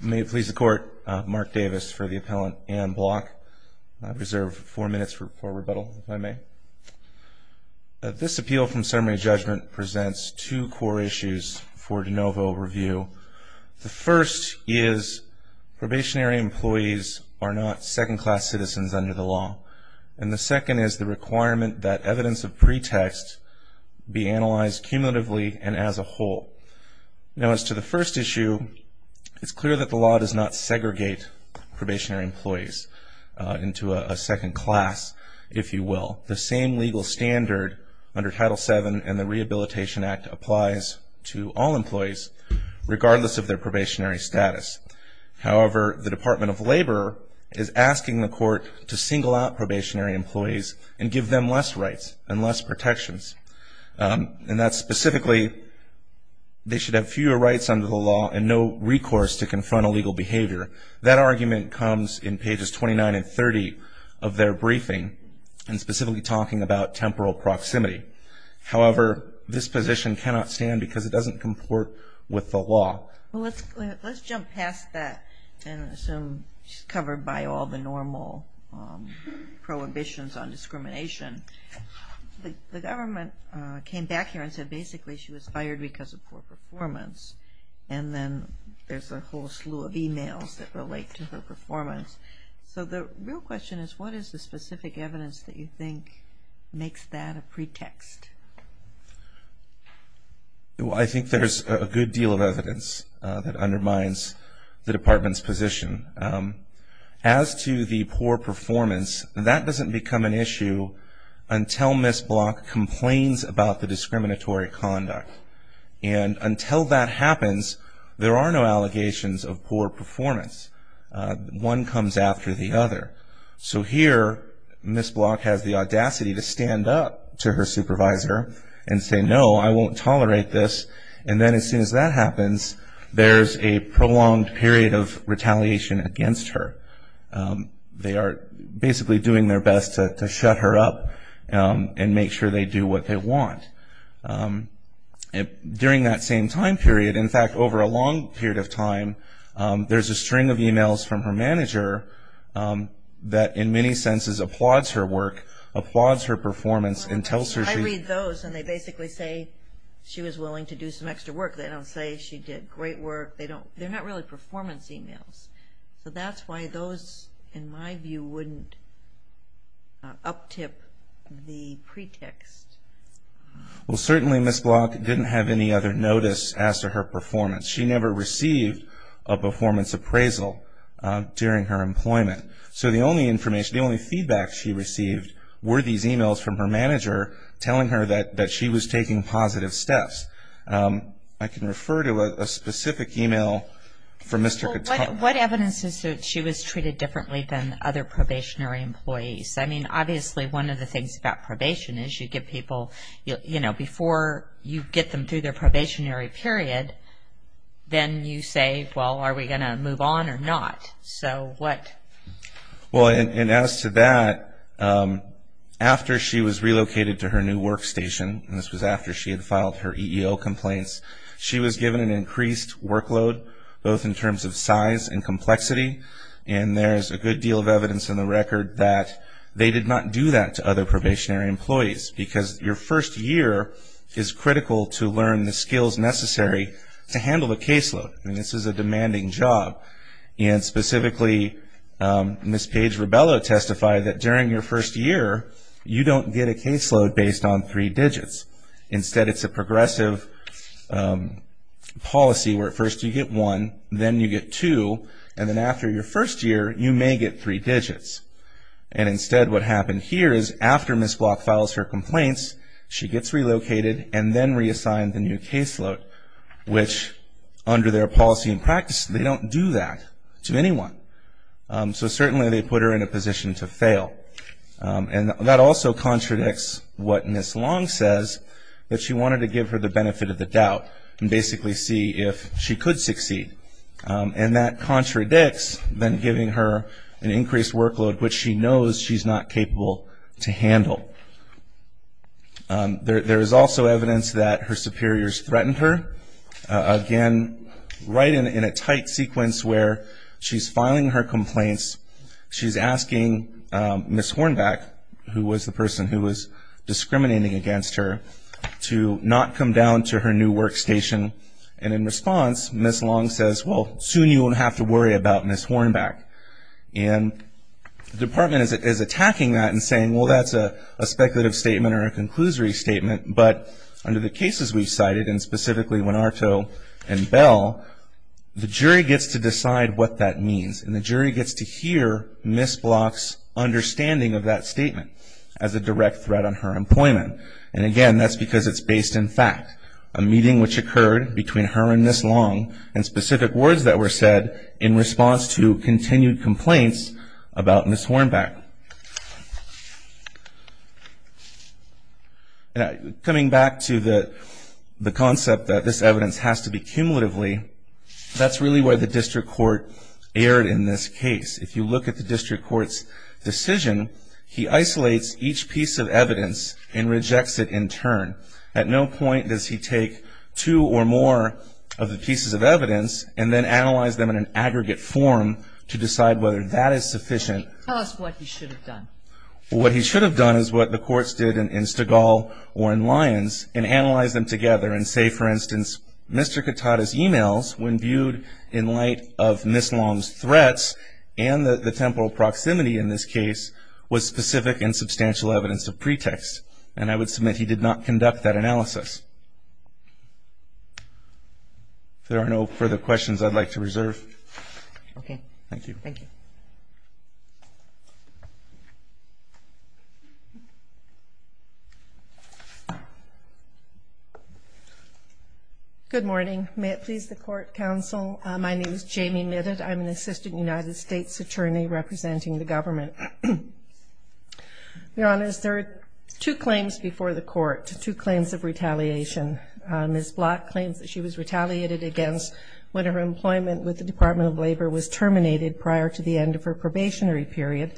May it please the Court, Mark Davis for the Appellant and Block. I reserve four minutes for rebuttal, if I may. This appeal from summary judgment presents two core issues for de novo review. The first is probationary employees are not second-class citizens under the law. And the second is the requirement that evidence of pretext be analyzed cumulatively and as a whole. Now as to the first issue, it's clear that the law does not segregate probationary employees into a second class, if you will. The same legal standard under Title VII and the Rehabilitation Act applies to all employees, regardless of their probationary status. However, the Department of Labor is asking the Court to single out probationary employees and give them less rights and less protections. And that's specifically, they should have fewer rights under the law and no recourse to confront illegal behavior. That argument comes in pages 29 and 30 of their briefing, and specifically talking about temporal proximity. However, this position cannot stand because it doesn't comport with the law. Let's jump past that and assume it's covered by all the normal prohibitions on discrimination. The government came back here and said basically she was fired because of poor performance. And then there's a whole slew of emails that relate to her performance. So the real question is, what is the specific evidence that you think makes that a pretext? Well, I think there's a good deal of evidence that undermines the Department's position. As to the poor performance, that doesn't become an issue until Ms. Block complains about the discriminatory conduct. And until that happens, there are no allegations of poor performance. One comes after the other. So here, Ms. Block has the audacity to stand up to her supervisor and say, no, I won't tolerate this. And then as soon as that happens, there's a prolonged period of retaliation against her. They are basically doing their best to shut her up and make sure they do what they want. During that same time period, in fact, over a long period of time, there's a string of emails from her manager that in many senses applauds her work, applauds her performance, and tells her she- I read those and they basically say she was willing to do some extra work. They don't say she did great work. They're not really performance emails. So that's why those, in my view, wouldn't uptip the pretext. Well, certainly Ms. Block didn't have any other notice as to her performance. She never received a performance appraisal during her employment. So the only information, the only feedback she received, were these emails from her manager telling her that she was taking positive steps. I can refer to a specific email from Mr. Cotone. What evidence is that she was treated differently than other probationary employees? I mean, obviously, one of the things about probation is you give people, you know, before you get them through their probationary period, then you say, well, are we going to move on or not? So what? Well, and as to that, after she was relocated to her new workstation, and this was after she had filed her EEO complaints, she was given an increased workload both in terms of size and complexity. And there's a good deal of evidence in the record that they did not do that to other probationary employees because your first year is critical to learn the skills necessary to handle the caseload. I mean, this is a demanding job. And specifically, Ms. Paige Rebello testified that during your first year, you don't get a caseload based on three digits. Instead, it's a progressive policy where at first you get one, then you get two, and then after your first year, you may get three digits. And instead, what happened here is after Ms. Block files her complaints, she gets relocated and then reassigned the new caseload, which under their policy and practice, they don't do that to anyone. So certainly they put her in a position to fail. And that also contradicts what Ms. Long says, that she wanted to give her the benefit of the doubt and basically see if she could succeed. And that contradicts then giving her an increased workload, which she knows she's not capable to handle. There is also evidence that her superiors threatened her. Again, right in a tight sequence where she's filing her complaints, she's asking Ms. Hornback, who was the person who was discriminating against her, to not come down to her new workstation. And in response, Ms. Long says, well, soon you won't have to worry about Ms. Hornback. And the department is attacking that and saying, well, that's a speculative statement or a conclusory statement. But under the cases we've cited, and specifically Winarto and Bell, the jury gets to decide what that means. And the jury gets to hear Ms. Block's understanding of that statement as a direct threat on her employment. And again, that's because it's based in fact. A meeting which occurred between her and Ms. Long, and specific words that were said in response to continued complaints about Ms. Hornback. Coming back to the concept that this evidence has to be cumulatively, that's really why the district court erred in this case. If you look at the district court's decision, he isolates each piece of evidence and rejects it in turn. At no point does he take two or more of the pieces of evidence and then analyze them in an aggregate form to decide whether that is sufficient. Tell us what he should have done. What he should have done is what the courts did in Stegall or in Lyons, and analyze them together and say, for instance, Mr. Katata's emails, when viewed in light of Ms. Long's threats and the temporal proximity in this case, was specific and substantial evidence of pretext. And I would submit he did not conduct that analysis. If there are no further questions, I'd like to reserve. Okay. Thank you. Thank you. Good morning. May it please the Court, Counsel. My name is Jamie Midditt. I'm an Assistant United States Attorney representing the government. Your Honors, there are two claims before the Court, two claims of retaliation. Ms. Block claims that she was retaliated against when her employment with the Department of Labor was terminated prior to the end of her probationary period,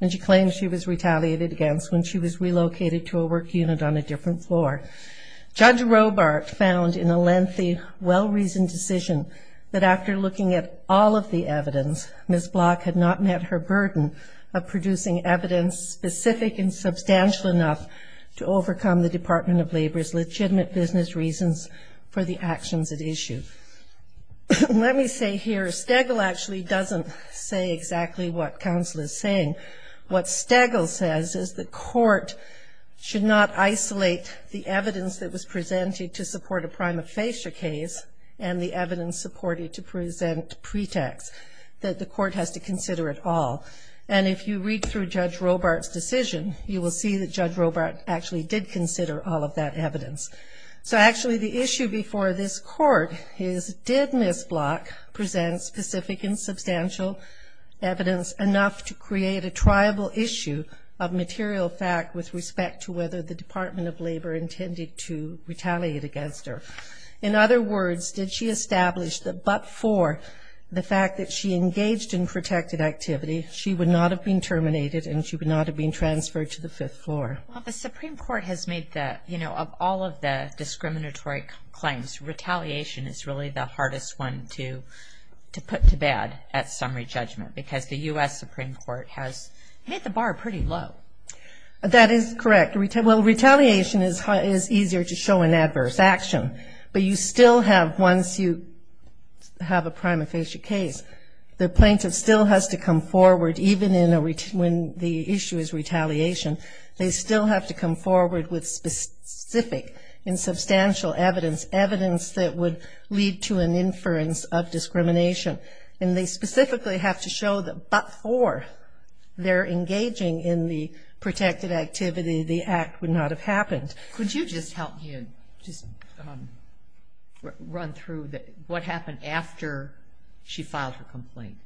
and she claims she was retaliated against when she was relocated to a work unit on a different floor. Judge Robart found in a lengthy, well-reasoned decision that after looking at all of the evidence, Ms. Block had not met her burden of producing evidence specific and substantial enough to overcome the Department of Labor's legitimate business reasons for the actions at issue. Let me say here, Stegall actually doesn't say exactly what Counsel is saying. What Stegall says is the Court should not isolate the evidence that was presented to support a prima facie case and the evidence supported to present pretext. The Court has to consider it all, and if you read through Judge Robart's decision, you will see that Judge Robart actually did consider all of that evidence. So actually the issue before this Court is did Ms. Block present specific and substantial evidence enough to create a triable issue of material fact with respect to whether the Department of Labor intended to retaliate against her? In other words, did she establish that but for the fact that she engaged in protected activity, she would not have been terminated and she would not have been transferred to the fifth floor? Well, the Supreme Court has made that, you know, of all of the discriminatory claims, retaliation is really the hardest one to put to bed at summary judgment because the U.S. Supreme Court has hit the bar pretty low. That is correct. Well, retaliation is easier to show in adverse action, but you still have, once you have a prima facie case, the plaintiff still has to come forward, even when the issue is retaliation. They still have to come forward with specific and substantial evidence, evidence that would lead to an inference of discrimination. And they specifically have to show that before they're engaging in the protected activity, the act would not have happened. Could you just help me and just run through what happened after she filed her complaint?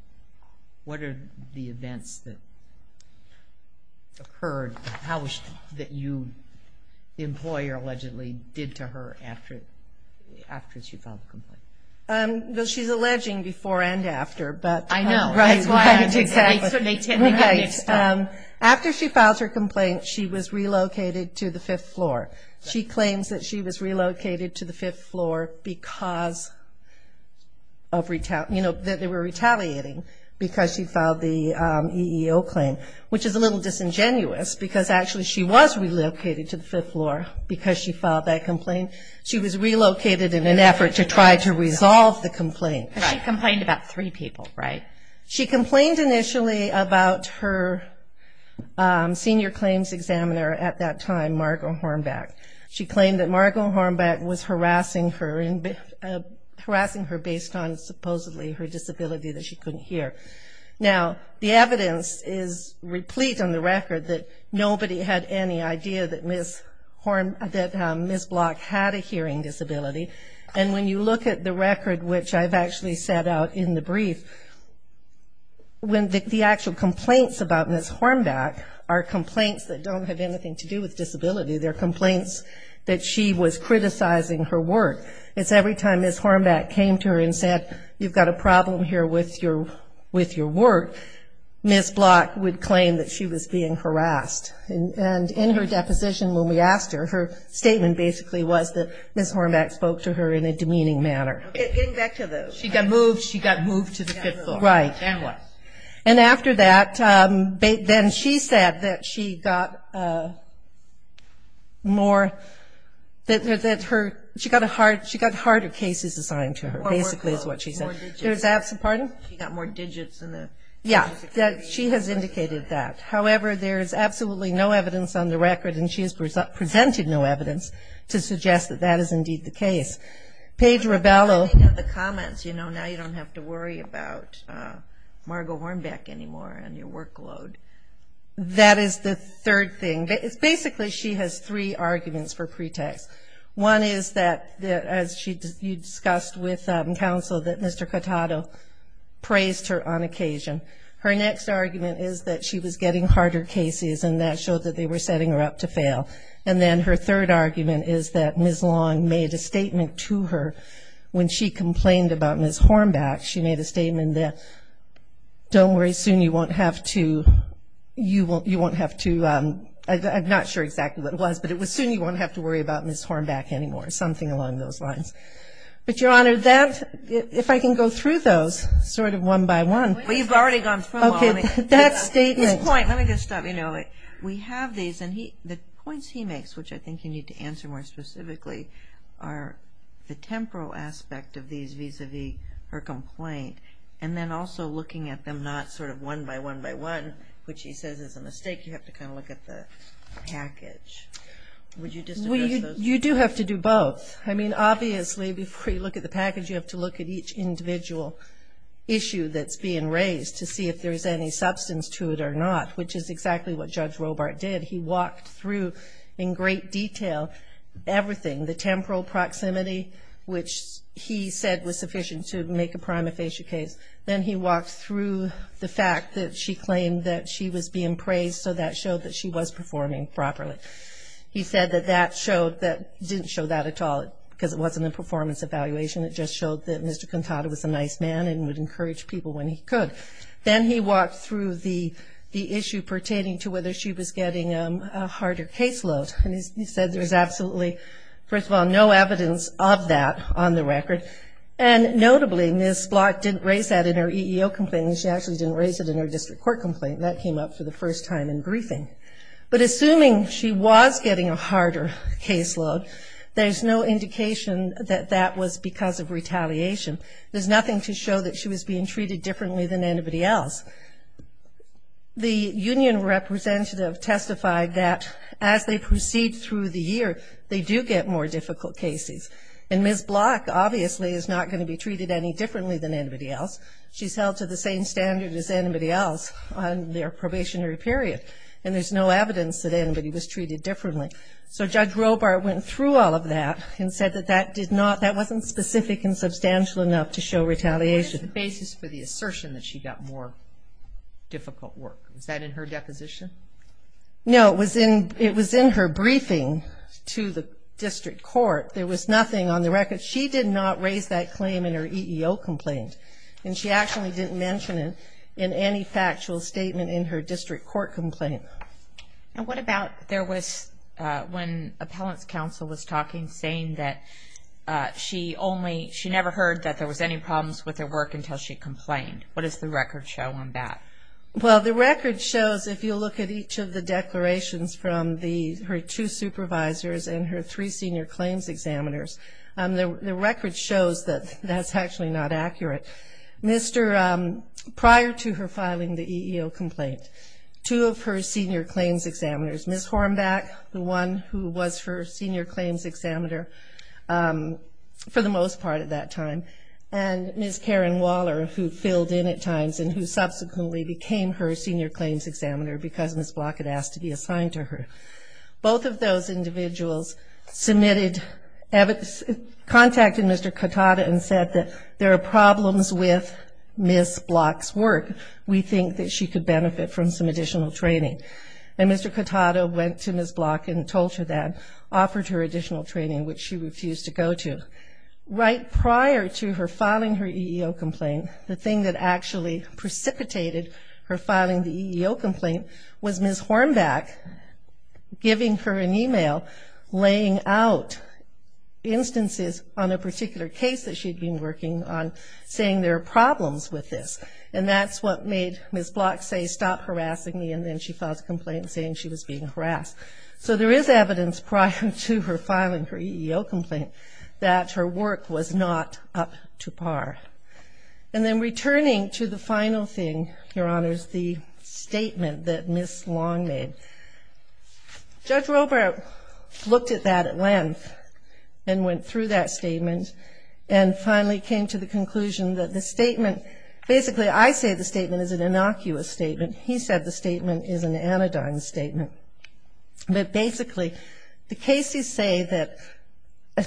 What are the events that occurred that you, the employer allegedly, did to her after she filed the complaint? Well, she's alleging before and after. I know. Right, right, exactly. After she filed her complaint, she was relocated to the fifth floor. She claims that she was relocated to the fifth floor because of, you know, that they were retaliating because she filed the EEO claim, which is a little disingenuous because actually she was relocated to the fifth floor because she filed that complaint. She was relocated in an effort to try to resolve the complaint. She complained about three people, right? She complained initially about her senior claims examiner at that time, Margo Hornback. She claimed that Margo Hornback was harassing her based on supposedly her disability that she couldn't hear. Now, the evidence is replete on the record that nobody had any idea that Ms. Block had a hearing disability. And when you look at the record, which I've actually set out in the brief, the actual complaints about Ms. Hornback are complaints that don't have anything to do with disability. They're complaints that she was criticizing her work. It's every time Ms. Hornback came to her and said, you've got a problem here with your work, Ms. Block would claim that she was being harassed. And in her deposition when we asked her, her statement basically was that Ms. Hornback spoke to her in a demeaning manner. Getting back to the ‑‑ She got moved. She got moved to the fifth floor. Right. And what? And after that, then she said that she got more ‑‑ that her ‑‑ she got harder cases assigned to her, basically is what she said. Or more codes, more digits. Pardon? She got more digits in the ‑‑ Yeah. She has indicated that. However, there is absolutely no evidence on the record, and she has presented no evidence to suggest that that is indeed the case. Paige Ribello. I know the comments. You know, now you don't have to worry about Margo Hornback anymore and your workload. That is the third thing. Basically, she has three arguments for pretext. One is that, as you discussed with counsel, that Mr. Cotato praised her on occasion. Her next argument is that she was getting harder cases, and that showed that they were setting her up to fail. And then her third argument is that Ms. Long made a statement to her when she complained about Ms. Hornback. She made a statement that, don't worry, soon you won't have to ‑‑ you won't have to ‑‑ I'm not sure exactly what it was, but it was, soon you won't have to worry about Ms. Hornback anymore, something along those lines. But, Your Honor, that, if I can go through those sort of one by one. Well, you've already gone through them all. Okay. That statement. Let me just stop. You know, we have these, and the points he makes, which I think you need to answer more specifically, are the temporal aspect of these vis‑a‑vis her complaint, and then also looking at them not sort of one by one by one, which he says is a mistake. You have to kind of look at the package. Would you just address those? Well, you do have to do both. I mean, obviously, before you look at the package, you have to look at each individual issue that's being raised to see if there's any substance to it or not, which is exactly what Judge Robart did. He walked through in great detail everything, the temporal proximity, which he said was sufficient to make a prima facie case. Then he walked through the fact that she claimed that she was being praised, so that showed that she was performing properly. He said that that showed, that didn't show that at all, because it wasn't a performance evaluation. It just showed that Mr. Quintada was a nice man and would encourage people when he could. Then he walked through the issue pertaining to whether she was getting a harder caseload, and he said there was absolutely, first of all, no evidence of that on the record, and notably Ms. Block didn't raise that in her EEO complaint, and she actually didn't raise it in her district court complaint. That came up for the first time in briefing. But assuming she was getting a harder caseload, there's no indication that that was because of retaliation. There's nothing to show that she was being treated differently than anybody else. The union representative testified that as they proceed through the year, they do get more difficult cases, and Ms. Block obviously is not going to be treated any differently than anybody else. She's held to the same standard as anybody else on their probationary period, and there's no evidence that anybody was treated differently. So Judge Robart went through all of that and said that that wasn't specific and substantial enough to show retaliation. What is the basis for the assertion that she got more difficult work? Was that in her deposition? No, it was in her briefing to the district court. There was nothing on the record. She did not raise that claim in her EEO complaint, and she actually didn't mention it in any factual statement in her district court complaint. And what about when appellant's counsel was talking, saying that she never heard that there was any problems with her work until she complained? What does the record show on that? Well, the record shows, if you look at each of the declarations from her two supervisors and her three senior claims examiners, the record shows that that's actually not accurate. Prior to her filing the EEO complaint, two of her senior claims examiners, Ms. Hornback, the one who was her senior claims examiner for the most part at that time, and Ms. Karen Waller, who filled in at times and who subsequently became her senior claims examiner because Ms. Block had asked to be assigned to her, both of those individuals contacted Mr. Katata and said that there are problems with Ms. Block's work. We think that she could benefit from some additional training. And Mr. Katata went to Ms. Block and told her that, offered her additional training, which she refused to go to. Right prior to her filing her EEO complaint, the thing that actually precipitated her filing the EEO complaint was Ms. Hornback giving her an email laying out instances on a particular case that she'd been working on saying there are problems with this. And that's what made Ms. Block say, stop harassing me and then she filed a complaint saying she was being harassed. So there is evidence prior to her filing her EEO complaint that her work was not up to par. And then returning to the final thing, Your Honors, the statement that Ms. Long made. Judge Robert looked at that at length and went through that statement and finally came to the conclusion that the statement, basically, I say the statement is an innocuous statement. He said the statement is an anodyne statement. But basically the cases say that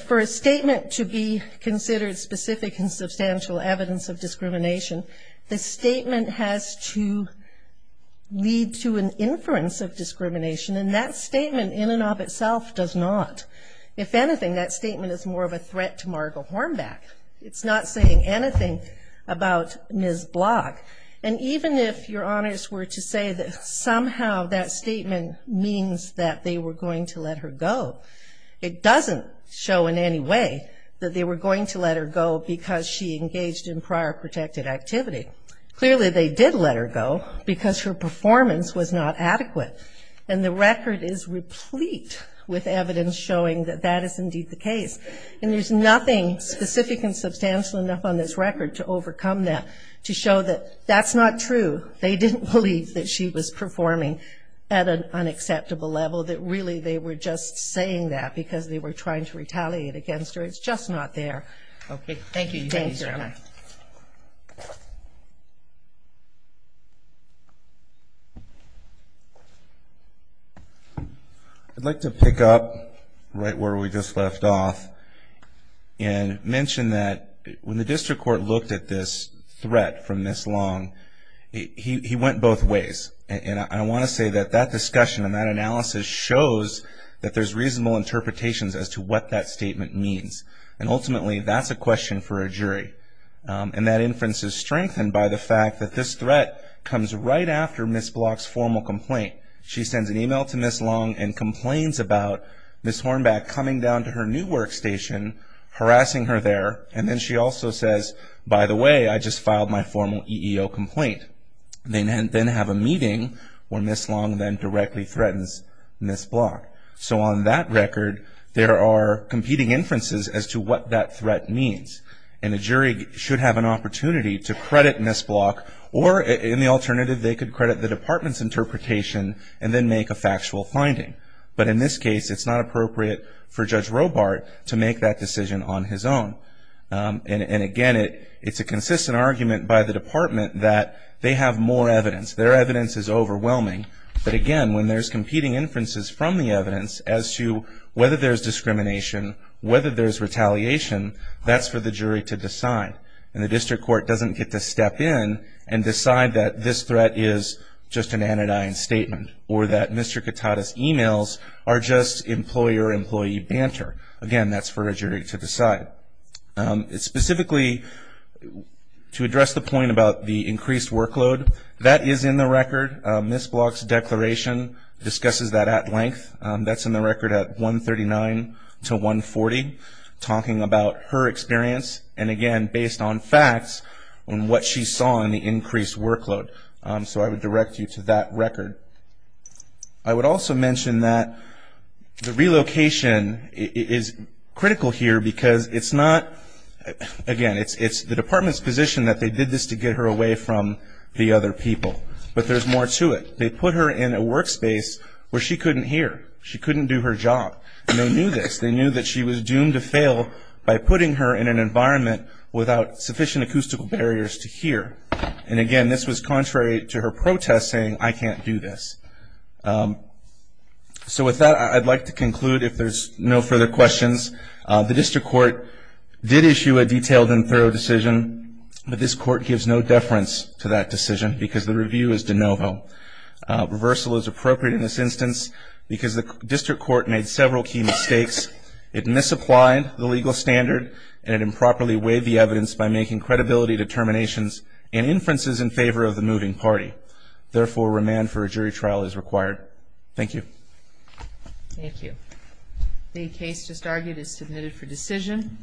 for a statement to be considered specific and substantial evidence of discrimination, the statement has to lead to an inference of discrimination. And that statement in and of itself does not. If anything, that statement is more of a threat to Margo Hornback. It's not saying anything about Ms. Block. And even if Your Honors were to say that somehow that statement means that they were going to let her go, it doesn't show in any way that they were going to let her go because she engaged in prior protected activity. Clearly they did let her go because her performance was not adequate. And the record is replete with evidence showing that that is indeed the case. And there's nothing specific and substantial enough on this record to overcome that to show that that's not true. They didn't believe that she was performing at an unacceptable level, that really they were just saying that because they were trying to retaliate against her. It's just not there. Okay, thank you. Thank you, Your Honor. I'd like to pick up right where we just left off and mention that when the district court looked at this threat from Ms. Long, he went both ways. And I want to say that that discussion and that analysis shows that there's reasonable interpretations as to what that statement means. And ultimately that's a question for a jury. And that inference is strengthened by the fact that this threat comes right after Ms. Block's formal complaint. She sends an email to Ms. Long and complains about Ms. Hornback coming down to her new workstation, harassing her there. And then she also says, by the way, I just filed my formal EEO complaint. They then have a meeting where Ms. Long then directly threatens Ms. Block. So on that record, there are competing inferences as to what that threat means. And a jury should have an opportunity to credit Ms. Block or, in the alternative, they could credit the department's interpretation and then make a factual finding. But in this case, it's not appropriate for Judge Robart to make that decision on his own. And, again, it's a consistent argument by the department that they have more evidence. Their evidence is overwhelming. But, again, when there's competing inferences from the evidence as to whether there's discrimination, whether there's retaliation, that's for the jury to decide. And the district court doesn't get to step in and decide that this threat is just an anodyne statement or that Mr. Katata's emails are just employer employee banter. Again, that's for a jury to decide. Specifically, to address the point about the increased workload, that is in the record. Ms. Block's declaration discusses that at length. That's in the record at 139 to 140, talking about her experience. And, again, based on facts and what she saw in the increased workload. So I would direct you to that record. I would also mention that the relocation is critical here because it's not, again, it's the department's position that they did this to get her away from the other people. But there's more to it. They put her in a workspace where she couldn't hear. She couldn't do her job. And they knew this. They knew that she was doomed to fail by putting her in an environment without sufficient acoustical barriers to hear. And, again, this was contrary to her protest saying, I can't do this. So with that, I'd like to conclude if there's no further questions. The district court did issue a detailed and thorough decision. But this court gives no deference to that decision because the review is de novo. Reversal is appropriate in this instance because the district court made several key mistakes. It misapplied the legal standard and improperly weighed the evidence by making credibility determinations and inferences in favor of the moving party. Therefore, remand for a jury trial is required. Thank you. Thank you. The case just argued is submitted for decision.